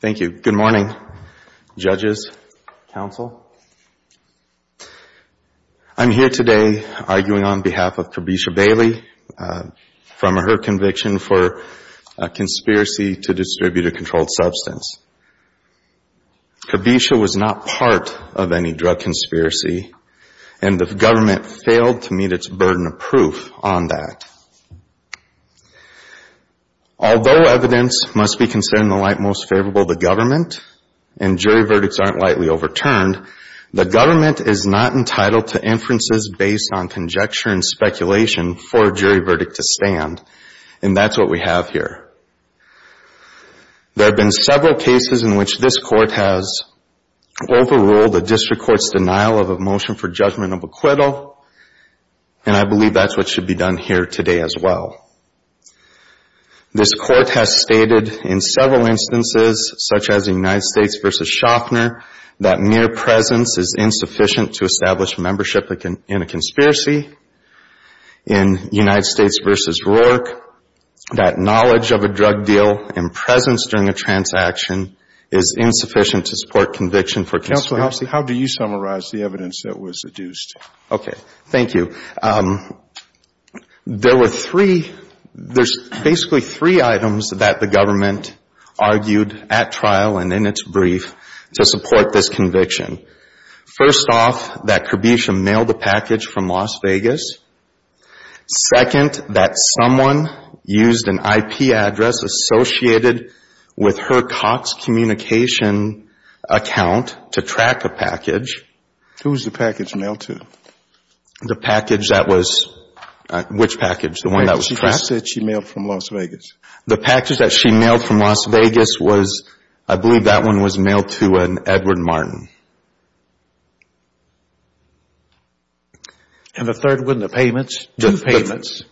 Thank you. Good morning, judges, counsel. I'm here today arguing on behalf of Kirbesha Bailey from her conviction for a conspiracy to distribute a controlled substance. Kirbesha was not part of any drug conspiracy, and the government failed to meet its burden of proof on that. Although evidence must be considered in the light most favorable to government and jury verdicts aren't lightly overturned, the government is not entitled to inferences based on conjecture and speculation for a jury verdict to stand, and that's what we Overall, the district court's denial of a motion for judgment of acquittal, and I believe that's what should be done here today as well. This court has stated in several instances, such as in United States v. Schaffner, that mere presence is insufficient to establish membership in a conspiracy. In United States v. Roark, that knowledge of a drug deal and How do you summarize the evidence that was adduced? Okay. Thank you. There were three, there's basically three items that the government argued at trial and in its brief to support this conviction. First off, that Kirbesha mailed the package from Las Vegas. Second, that someone used an IP address associated with her Cox Communication account to track a package. Who was the package mailed to? The package that was, which package? The one that was tracked? She just said she mailed from Las Vegas. The package that she mailed from Las Vegas was, I believe that one was mailed to an Edward Martin. And the third one, the payments? Two payments.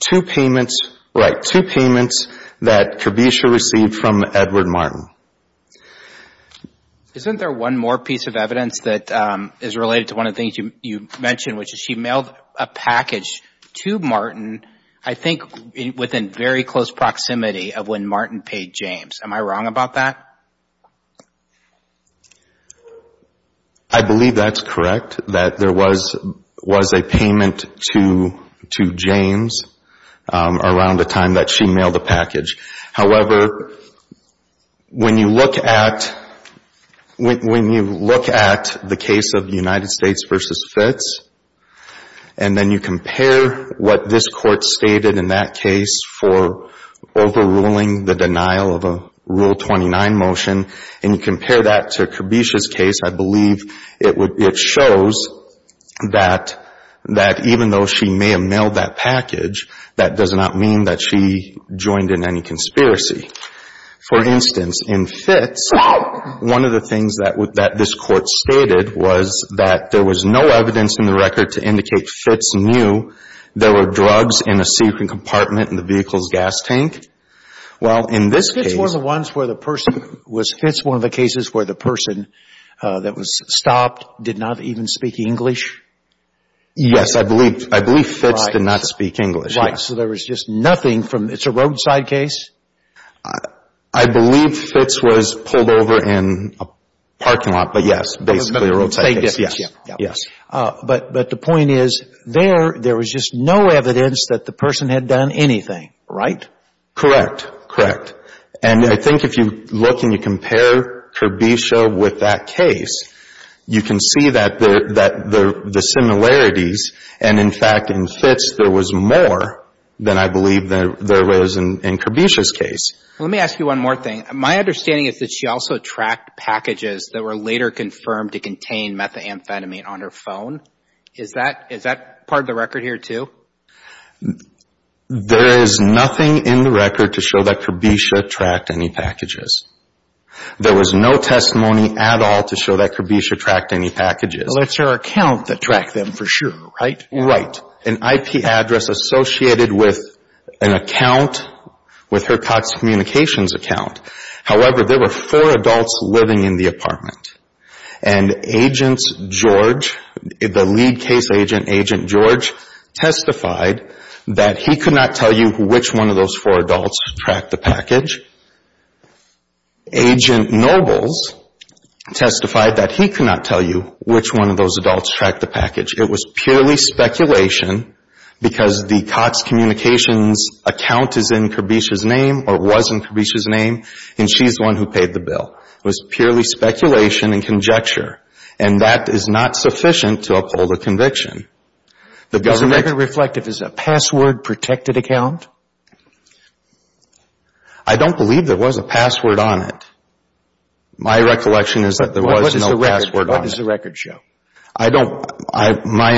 Right. Two payments that Kirbesha received from Edward Martin. Isn't there one more piece of evidence that is related to one of the things you mentioned, which is she mailed a package to Martin, I think within very close proximity of when Martin paid James. Am I wrong about that? I believe that's correct, that there was a payment to James around the time that she mailed the package. However, when you look at the case of United States versus Fitz, and then you compare what this court stated in that case for overruling the denial of Rule 29 motion, and you compare that to Kirbesha's case, I believe it shows that even though she may have mailed that package, that does not mean that she joined in any conspiracy. For instance, in Fitz, one of the things that this court stated was that there was no evidence in the record to indicate Fitz knew there were drugs in a secret compartment in the vehicle's gas tank. Well, in this case... Was Fitz one of the cases where the person that was stopped did not even speak English? Yes, I believe Fitz did not speak English. Right. So there was just nothing from... It's a roadside case? I believe Fitz was pulled over in a parking lot, but yes, basically a roadside case. Yes. But the point is, there was just no evidence that the person had done anything, right? Correct. Correct. And I think if you look and you compare Kirbesha with that case, you can see that the similarities, and in fact, in Fitz there was more than I believe there was in Kirbesha's case. Let me ask you one more thing. My understanding is that she also tracked packages that were later confirmed to contain methamphetamine on her phone. Is that part of the record here too? There is nothing in the record to show that Kirbesha tracked any packages. There was no testimony at all to show that Kirbesha tracked any packages. But it's her account that tracked them for sure, right? Right. An IP address associated with an account, with her Cox Communications account. However, there were four adults living in the apartment. And Agent George, the lead case agent, Agent George, testified that he could not tell you which one of those four adults tracked the package. Agent Nobles testified that he could not tell you which one of those adults tracked the package. It was purely speculation because the Cox Communications account is in Kirbesha's name or was in Kirbesha's name, and she's the one who paid the bill. It was purely speculation and conjecture, and that is not sufficient to uphold a conviction. The government Does the record reflect if it's a password-protected account? I don't believe there was a password on it. My recollection is that there was no password on it. What does the record show? I don't. My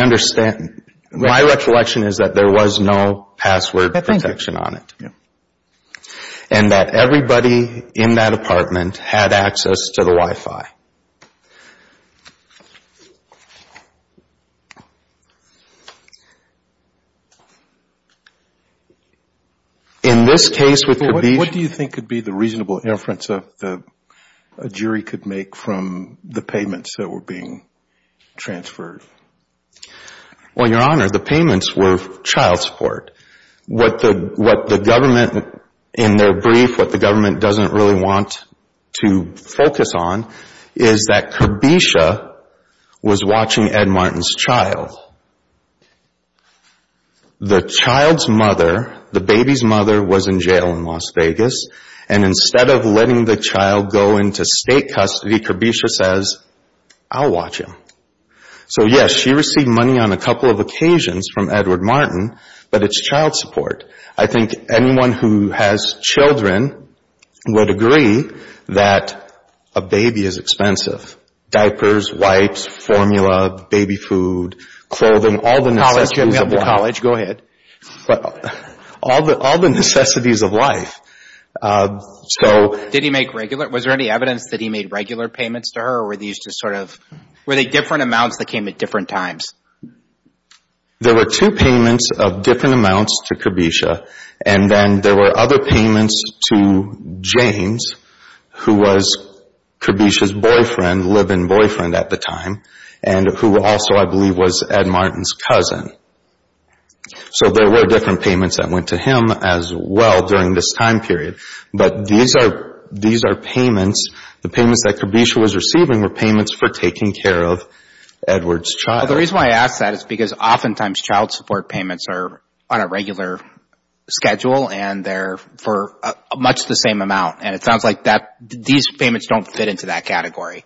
recollection is that there was no password protection on it. And that everybody in that apartment had access to the Wi-Fi. In this case with Kirbesha What do you think could be the reasonable inference that a jury could make from the payments that were being transferred? Well, Your Honor, the payments were child support. What the government in their brief, what the government doesn't really want to focus on is that Kirbesha was watching Ed Martin's child. The child's mother, the baby's mother, was in jail in Las Vegas, and instead of letting the child go into state custody, Kirbesha says, I'll watch him. So yes, she received money on a couple of occasions from Edward Martin, but it's child support. I think anyone who has children would agree that a baby is expensive. Diapers, wipes, formula, baby food, clothing, all the necessities of life. College, go ahead. All the necessities of life. Did he make regular, was there any evidence that he made regular payments to her, or were these just sort of, were they different amounts that came at different times? There were two payments of different amounts to Kirbesha, and then there were other payments to James, who was Kirbesha's boyfriend, live-in boyfriend at the time, and who also I believe was Ed Martin's cousin. So there were different payments that went to him as well during this time period. But these are payments, the payments that Kirbesha was receiving were payments for taking care of Edward's child. The reason why I ask that is because oftentimes child support payments are on a regular schedule and they're for much the same amount, and it sounds like these payments don't fit into that category.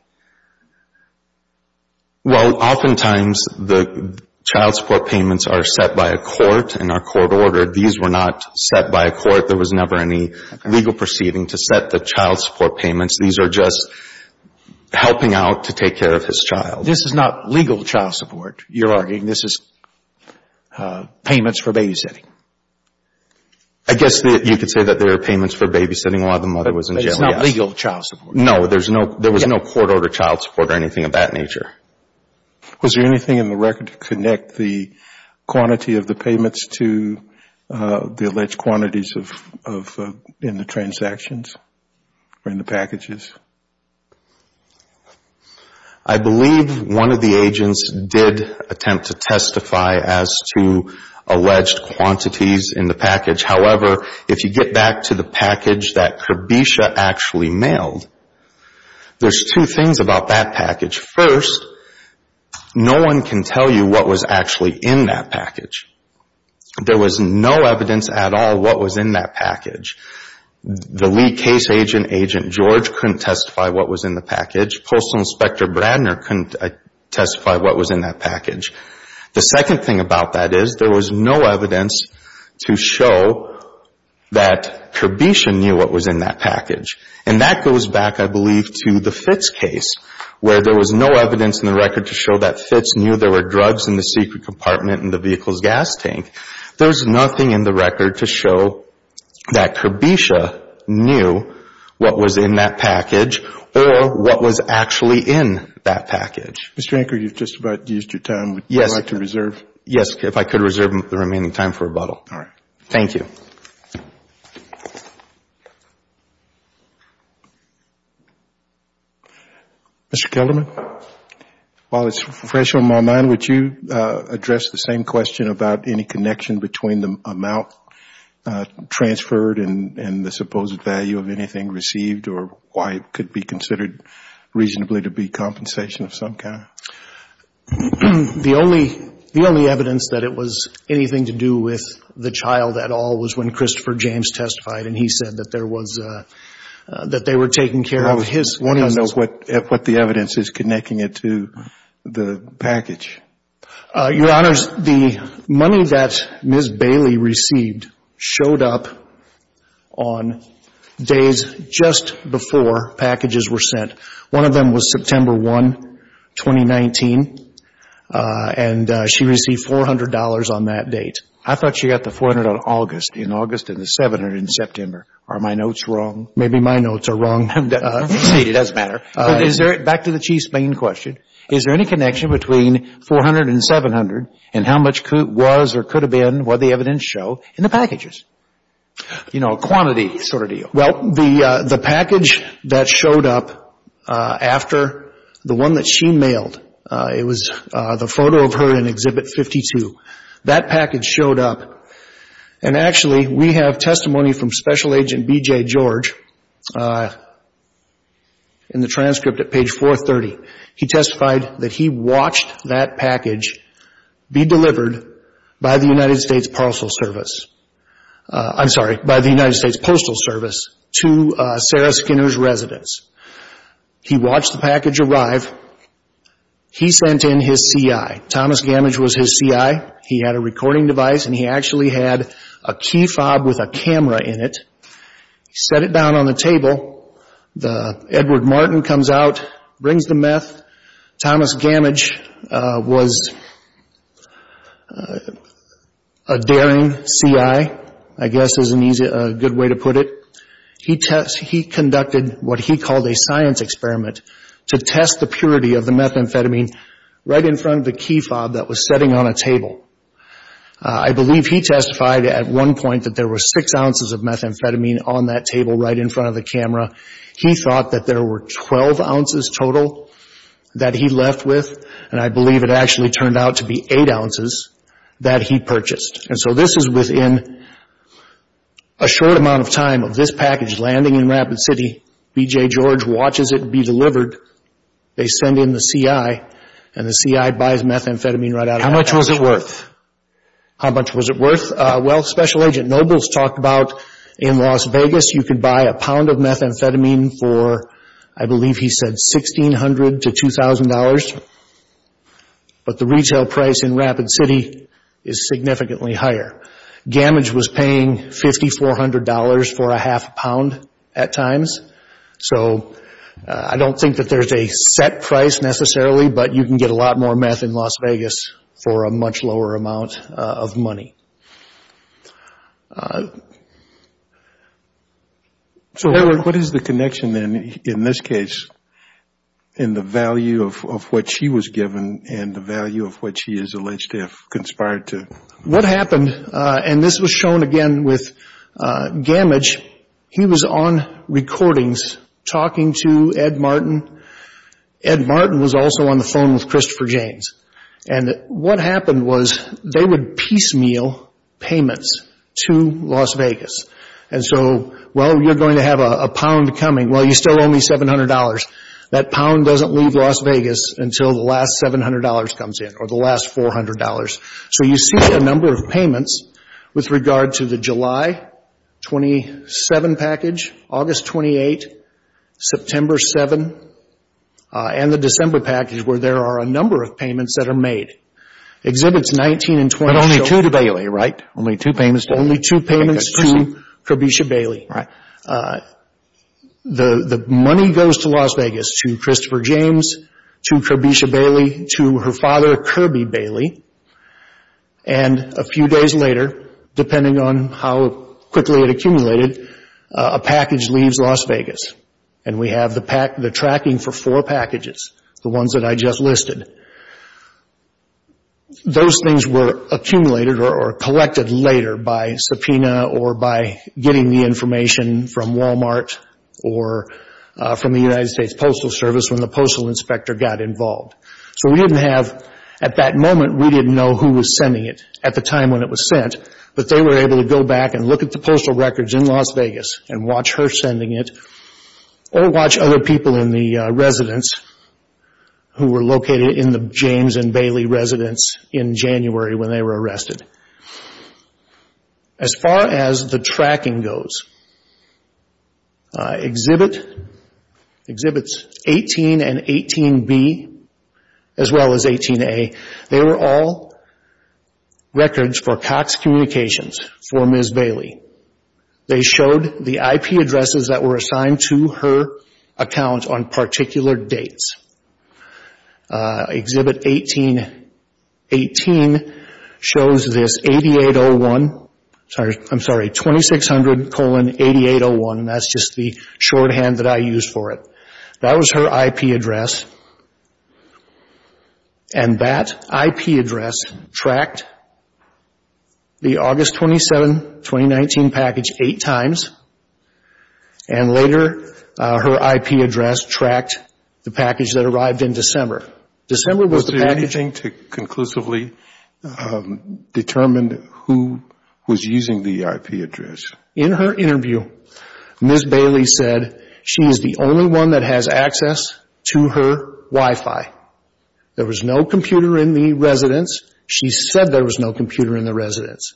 Well, oftentimes the child support payments are set by a court and are court ordered. These were not set by a court. There was never any legal proceeding to set the child support payments. These are just helping out to take care of his child. This is not legal child support, you're arguing. This is payments for babysitting. I guess you could say that they are payments for babysitting while the mother was in jail. But it's not legal child support? No, there was no court ordered child support or anything of that nature. Was there anything in the record to connect the quantity of the payments to the alleged quantities in the transactions or in the packages? I believe one of the agents did attempt to testify as to alleged quantities in the package. However, if you get back to the package that Kirbesha actually mailed, there's two things about that package. First, no one can tell you what was actually in that package. There was no evidence at all what was in that package. The lead case agent, Agent George, couldn't testify what was in the package. Postal Inspector Bradner couldn't testify what was in that package. The second thing about that is there was no evidence to show that Kirbesha knew what was in that package. And that goes back, I believe, to the Fitz case where there was no evidence in the record to show that Fitz knew there were drugs in the secret compartment in the vehicle's gas tank. There's nothing in the record to show that Kirbesha knew what was in that package or what was actually in that package. Mr. Anker, you've just about used your time. Would you like to reserve? Yes, if I could reserve the remaining time for rebuttal. Thank you. Mr. Kelderman? While it's fresh on my mind, would you address the same question about any connection between the amount transferred and the supposed value of anything received, or why it could be considered reasonably to be compensation of some kind? The only evidence that it was anything to do with the child at all was when Christopher James testified, and he said that there was, that they were taking care of his... I don't know what the evidence is connecting it to the package. Your Honors, the money that Ms. Bailey received showed up on days just before packages were sent. One of them was September 1, 2019, and she received $400 on that date. I thought she got the $400 on August, in August and the $700 in September. Are my notes wrong? Maybe my notes are wrong. It doesn't matter. Back to the Chief's main question, is there any connection between $400 and $700 and how much was or could have been what the evidence show in the packages? You know, a quantity sort of deal. Well, the package that showed up after the one that she mailed, it was the photo of her in Exhibit 52. That package showed up, and actually we have testimony from Special Agent B.J. George in the transcript at page 430. He testified that he watched that package be delivered by the United States Postal Service to Sarah Skinner's residence. He watched the package arrive. He sent in his CI. Thomas Gamage was his CI. He had a recording device and he actually had a key fob with a camera in it. He set it down on the table. Edward Martin comes out, brings the meth. Thomas Gamage was a daring CI, I guess is a good way to put it. He conducted what he called a science experiment to test the purity of the package. I believe he testified at one point that there were six ounces of methamphetamine on that table right in front of the camera. He thought that there were 12 ounces total that he left with, and I believe it actually turned out to be eight ounces that he purchased. And so this is within a short amount of time of this package landing in Rapid City. B.J. George watches it be delivered. They send in the CI, and the CI buys methamphetamine How much was it worth? How much was it worth? Well, Special Agent Nobles talked about in Las Vegas you could buy a pound of methamphetamine for, I believe he said $1,600 to $2,000, but the retail price in Rapid City is significantly higher. Gamage was paying $5,400 for a half a pound at times, so I don't think that there's a set price necessarily, but you can get a lot more meth in Las Vegas for a much lower amount of money. So what is the connection in this case in the value of what she was given and the value of what she is alleged to have conspired to? What happened, and this was shown again with Gamage, he was on recordings talking to Ed Martin was also on the phone with Christopher James. And what happened was they would piecemeal payments to Las Vegas. And so, well, you're going to have a pound coming. Well, you still owe me $700. That pound doesn't leave Las Vegas until the last $700 comes in or the last $400. So you see a number of payments with regard to the July 27 package, August 28, September 7, and the December package where there are a number of payments that are made. Exhibits 19 and 20 show only two payments to Kirbysha Bailey. The money goes to Las Vegas to Christopher James, to Kirbysha Bailey, to her father Kirby Bailey, and a little quickly it accumulated, a package leaves Las Vegas. And we have the tracking for four packages, the ones that I just listed. Those things were accumulated or collected later by subpoena or by getting the information from Walmart or from the United States Postal Service when the postal inspector got involved. So we didn't have, at that moment, we didn't know who was sending it at the time when it was sent, but they were able to go back and look at the postal records in Las Vegas and watch her sending it or watch other people in the residence who were located in the James and Bailey residence in January when they were arrested. As far as the tracking goes, exhibits 18 and 18B as well as 18A, they were all records for Cox Communications for Ms. Bailey. They showed the IP addresses that were assigned to her account on particular dates. Exhibit 18, 18 shows this 8801, I'm sorry, 2600 colon 8801, that's just the shorthand that I used for it. That was her IP address and that IP number, her IP address tracked the package that arrived in December. December was the packaging to conclusively determine who was using the IP address. In her interview, Ms. Bailey said she is the only one that has access to her Wi-Fi. There was no computer in the residence. She said there was no computer in the residence.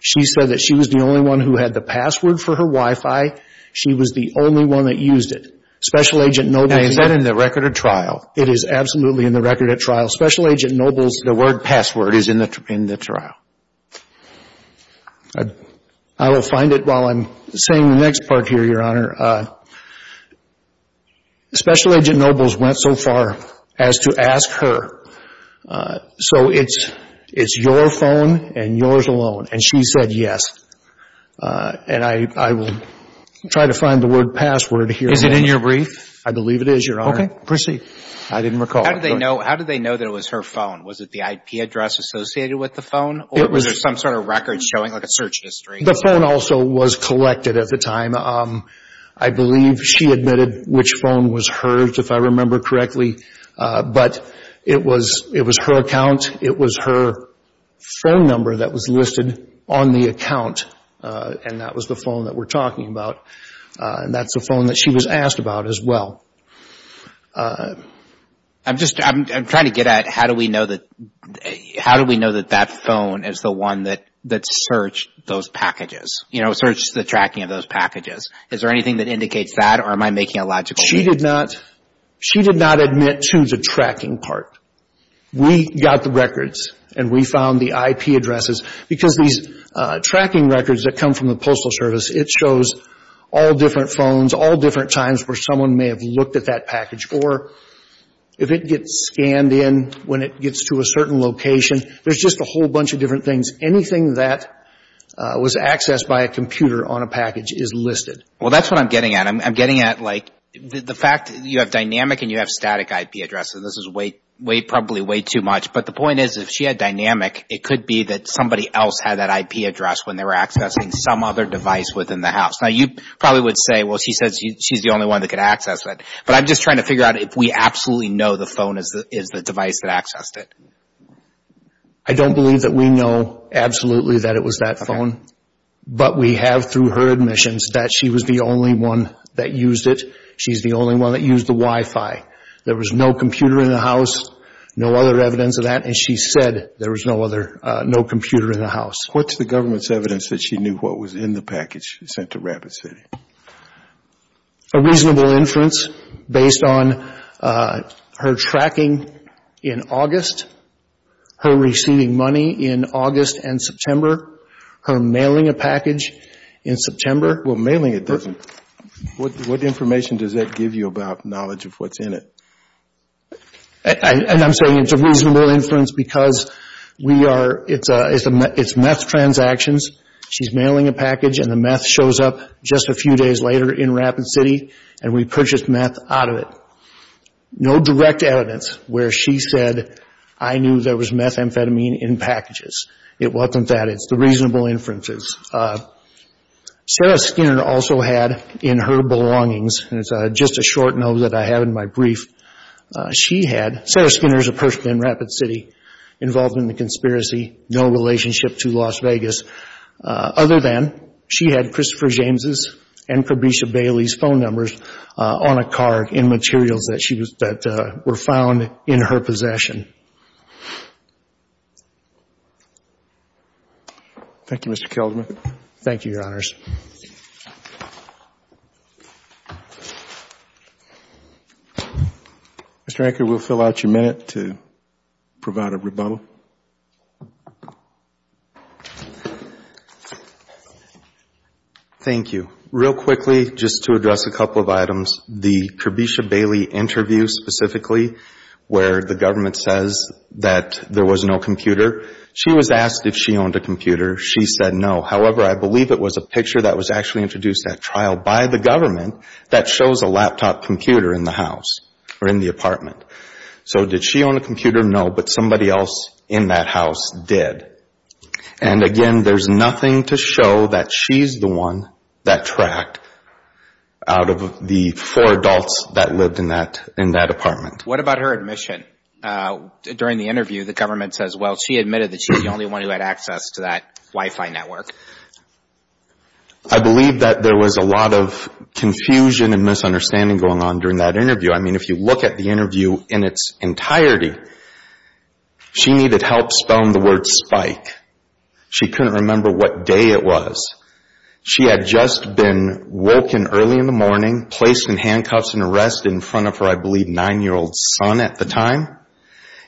She said that she was the only one who had the password for her Wi-Fi. She was the only one that used it. Special Agent Nobles... And is that in the record at trial? It is absolutely in the record at trial. Special Agent Nobles... The word password is in the trial. I will find it while I'm saying the next part here, Your Honor. Special Agent Nobles went so far as to ask her, so it's your phone and yours alone, and she said yes. And I will try to find the word password here. Is it in your brief? I believe it is, Your Honor. Okay. Proceed. I didn't recall. How did they know that it was her phone? Was it the IP address associated with the phone or was there some sort of record showing like a search history? The phone also was collected at the time. I believe she admitted which phone was hers. If I remember correctly, but it was her account. It was her phone number that was listed on the account, and that was the phone that we're talking about. That's the phone that she was asked about as well. I'm trying to get at how do we know that that phone is the one that searched those packages? Searched the tracking of those packages. Is there anything that indicates that or am I making a logical mistake? She did not admit to the tracking part. We got the records and we found the IP addresses because these tracking records that come from the Postal Service, it shows all different phones, all different times where someone may have looked at that package. Or if it gets scanned in when it gets to a certain location, there's just a whole bunch of different things. Anything that was accessed by a computer on a package is listed. That's what I'm getting at. I'm getting at the fact that you have dynamic and you have static IP addresses. This is probably way too much, but the point is if she had dynamic, it could be that somebody else had that IP address when they were accessing some other device within the house. You probably would say, she said she's the only one that could access that. I'm just trying to figure out if we absolutely know the phone is the device that accessed it. I don't believe that we know absolutely that it was that phone, but we have through her omissions that she was the only one that used it. She's the only one that used the Wi-Fi. There was no computer in the house, no other evidence of that, and she said there was no computer in the house. What's the government's evidence that she knew what was in the package sent to Rapid City? A reasonable inference based on her tracking in August, her receiving money in August and September. Mailing it doesn't. What information does that give you about knowledge of what's in it? I'm saying it's a reasonable inference because it's meth transactions. She's mailing a package and the meth shows up just a few days later in Rapid City, and we purchased meth out of it. No direct evidence where she said, I knew there was methamphetamine in packages. It was not in the package. Sarah Skinner also had in her belongings, and it's just a short note that I have in my brief, she had, Sarah Skinner is a person in Rapid City involved in the conspiracy, no relationship to Las Vegas, other than she had Christopher James' and Fabricia Bailey's phone numbers on a card in materials that she was, that were found in her possession. Thank you, Mr. Kelderman. Thank you, Your Honors. Mr. Anker, we'll fill out your minute to provide a rebuttal. Thank you. Real quickly, just to address a couple of items, the Fabricia Bailey interview specifically where the government says that there was no computer, she was asked if she owned a computer. However, I believe it was a picture that was actually introduced at trial by the government that shows a laptop computer in the house or in the apartment. So did she own a computer? No, but somebody else in that house did. And again, there's nothing to show that she's the one that tracked out of the four adults that lived in that apartment. What about her admission? During the interview, the government says, well, she admitted that she was the only one who had access to that Wi-Fi network. I believe that there was a lot of confusion and misunderstanding going on during that interview. I mean, if you look at the interview in its entirety, she needed help spelling the word spike. She couldn't remember what day it was. She had just been woken early in the morning, placed in handcuffs and arrested in front of her, I believe, nine-year-old son at the time,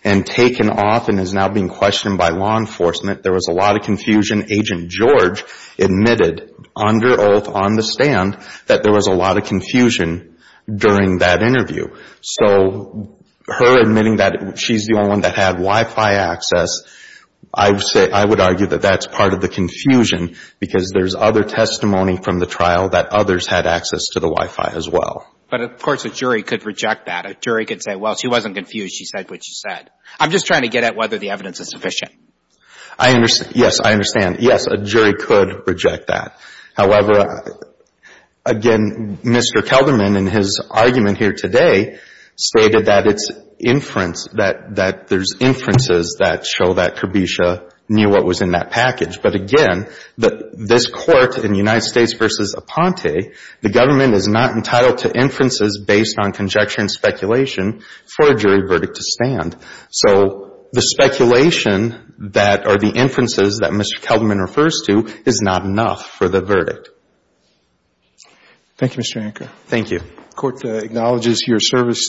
and taken off and is now being questioned by law enforcement. There was a lot of confusion. Agent George admitted under oath on the stand that there was a lot of confusion during that interview. So her admitting that she's the only one that had Wi-Fi access, I would argue that that's part of the confusion because there's other testimony from the trial that others had access to the Wi-Fi as well. But, of course, a jury could reject that. A jury could say, well, she wasn't confused. She said what she said. I'm just trying to get at whether the evidence is sufficient. I understand. Yes, I understand. Yes, a jury could reject that. However, again, Mr. Kelderman in his argument here today stated that it's inference, that there's inferences that show that Kirbysha knew what was in that package. But, again, this Court in United States is entitled to inferences based on conjecture and speculation for a jury verdict to stand. So the speculation that are the inferences that Mr. Kelderman refers to is not enough for the verdict. Thank you, Mr. Anker. Thank you. The Court acknowledges your service.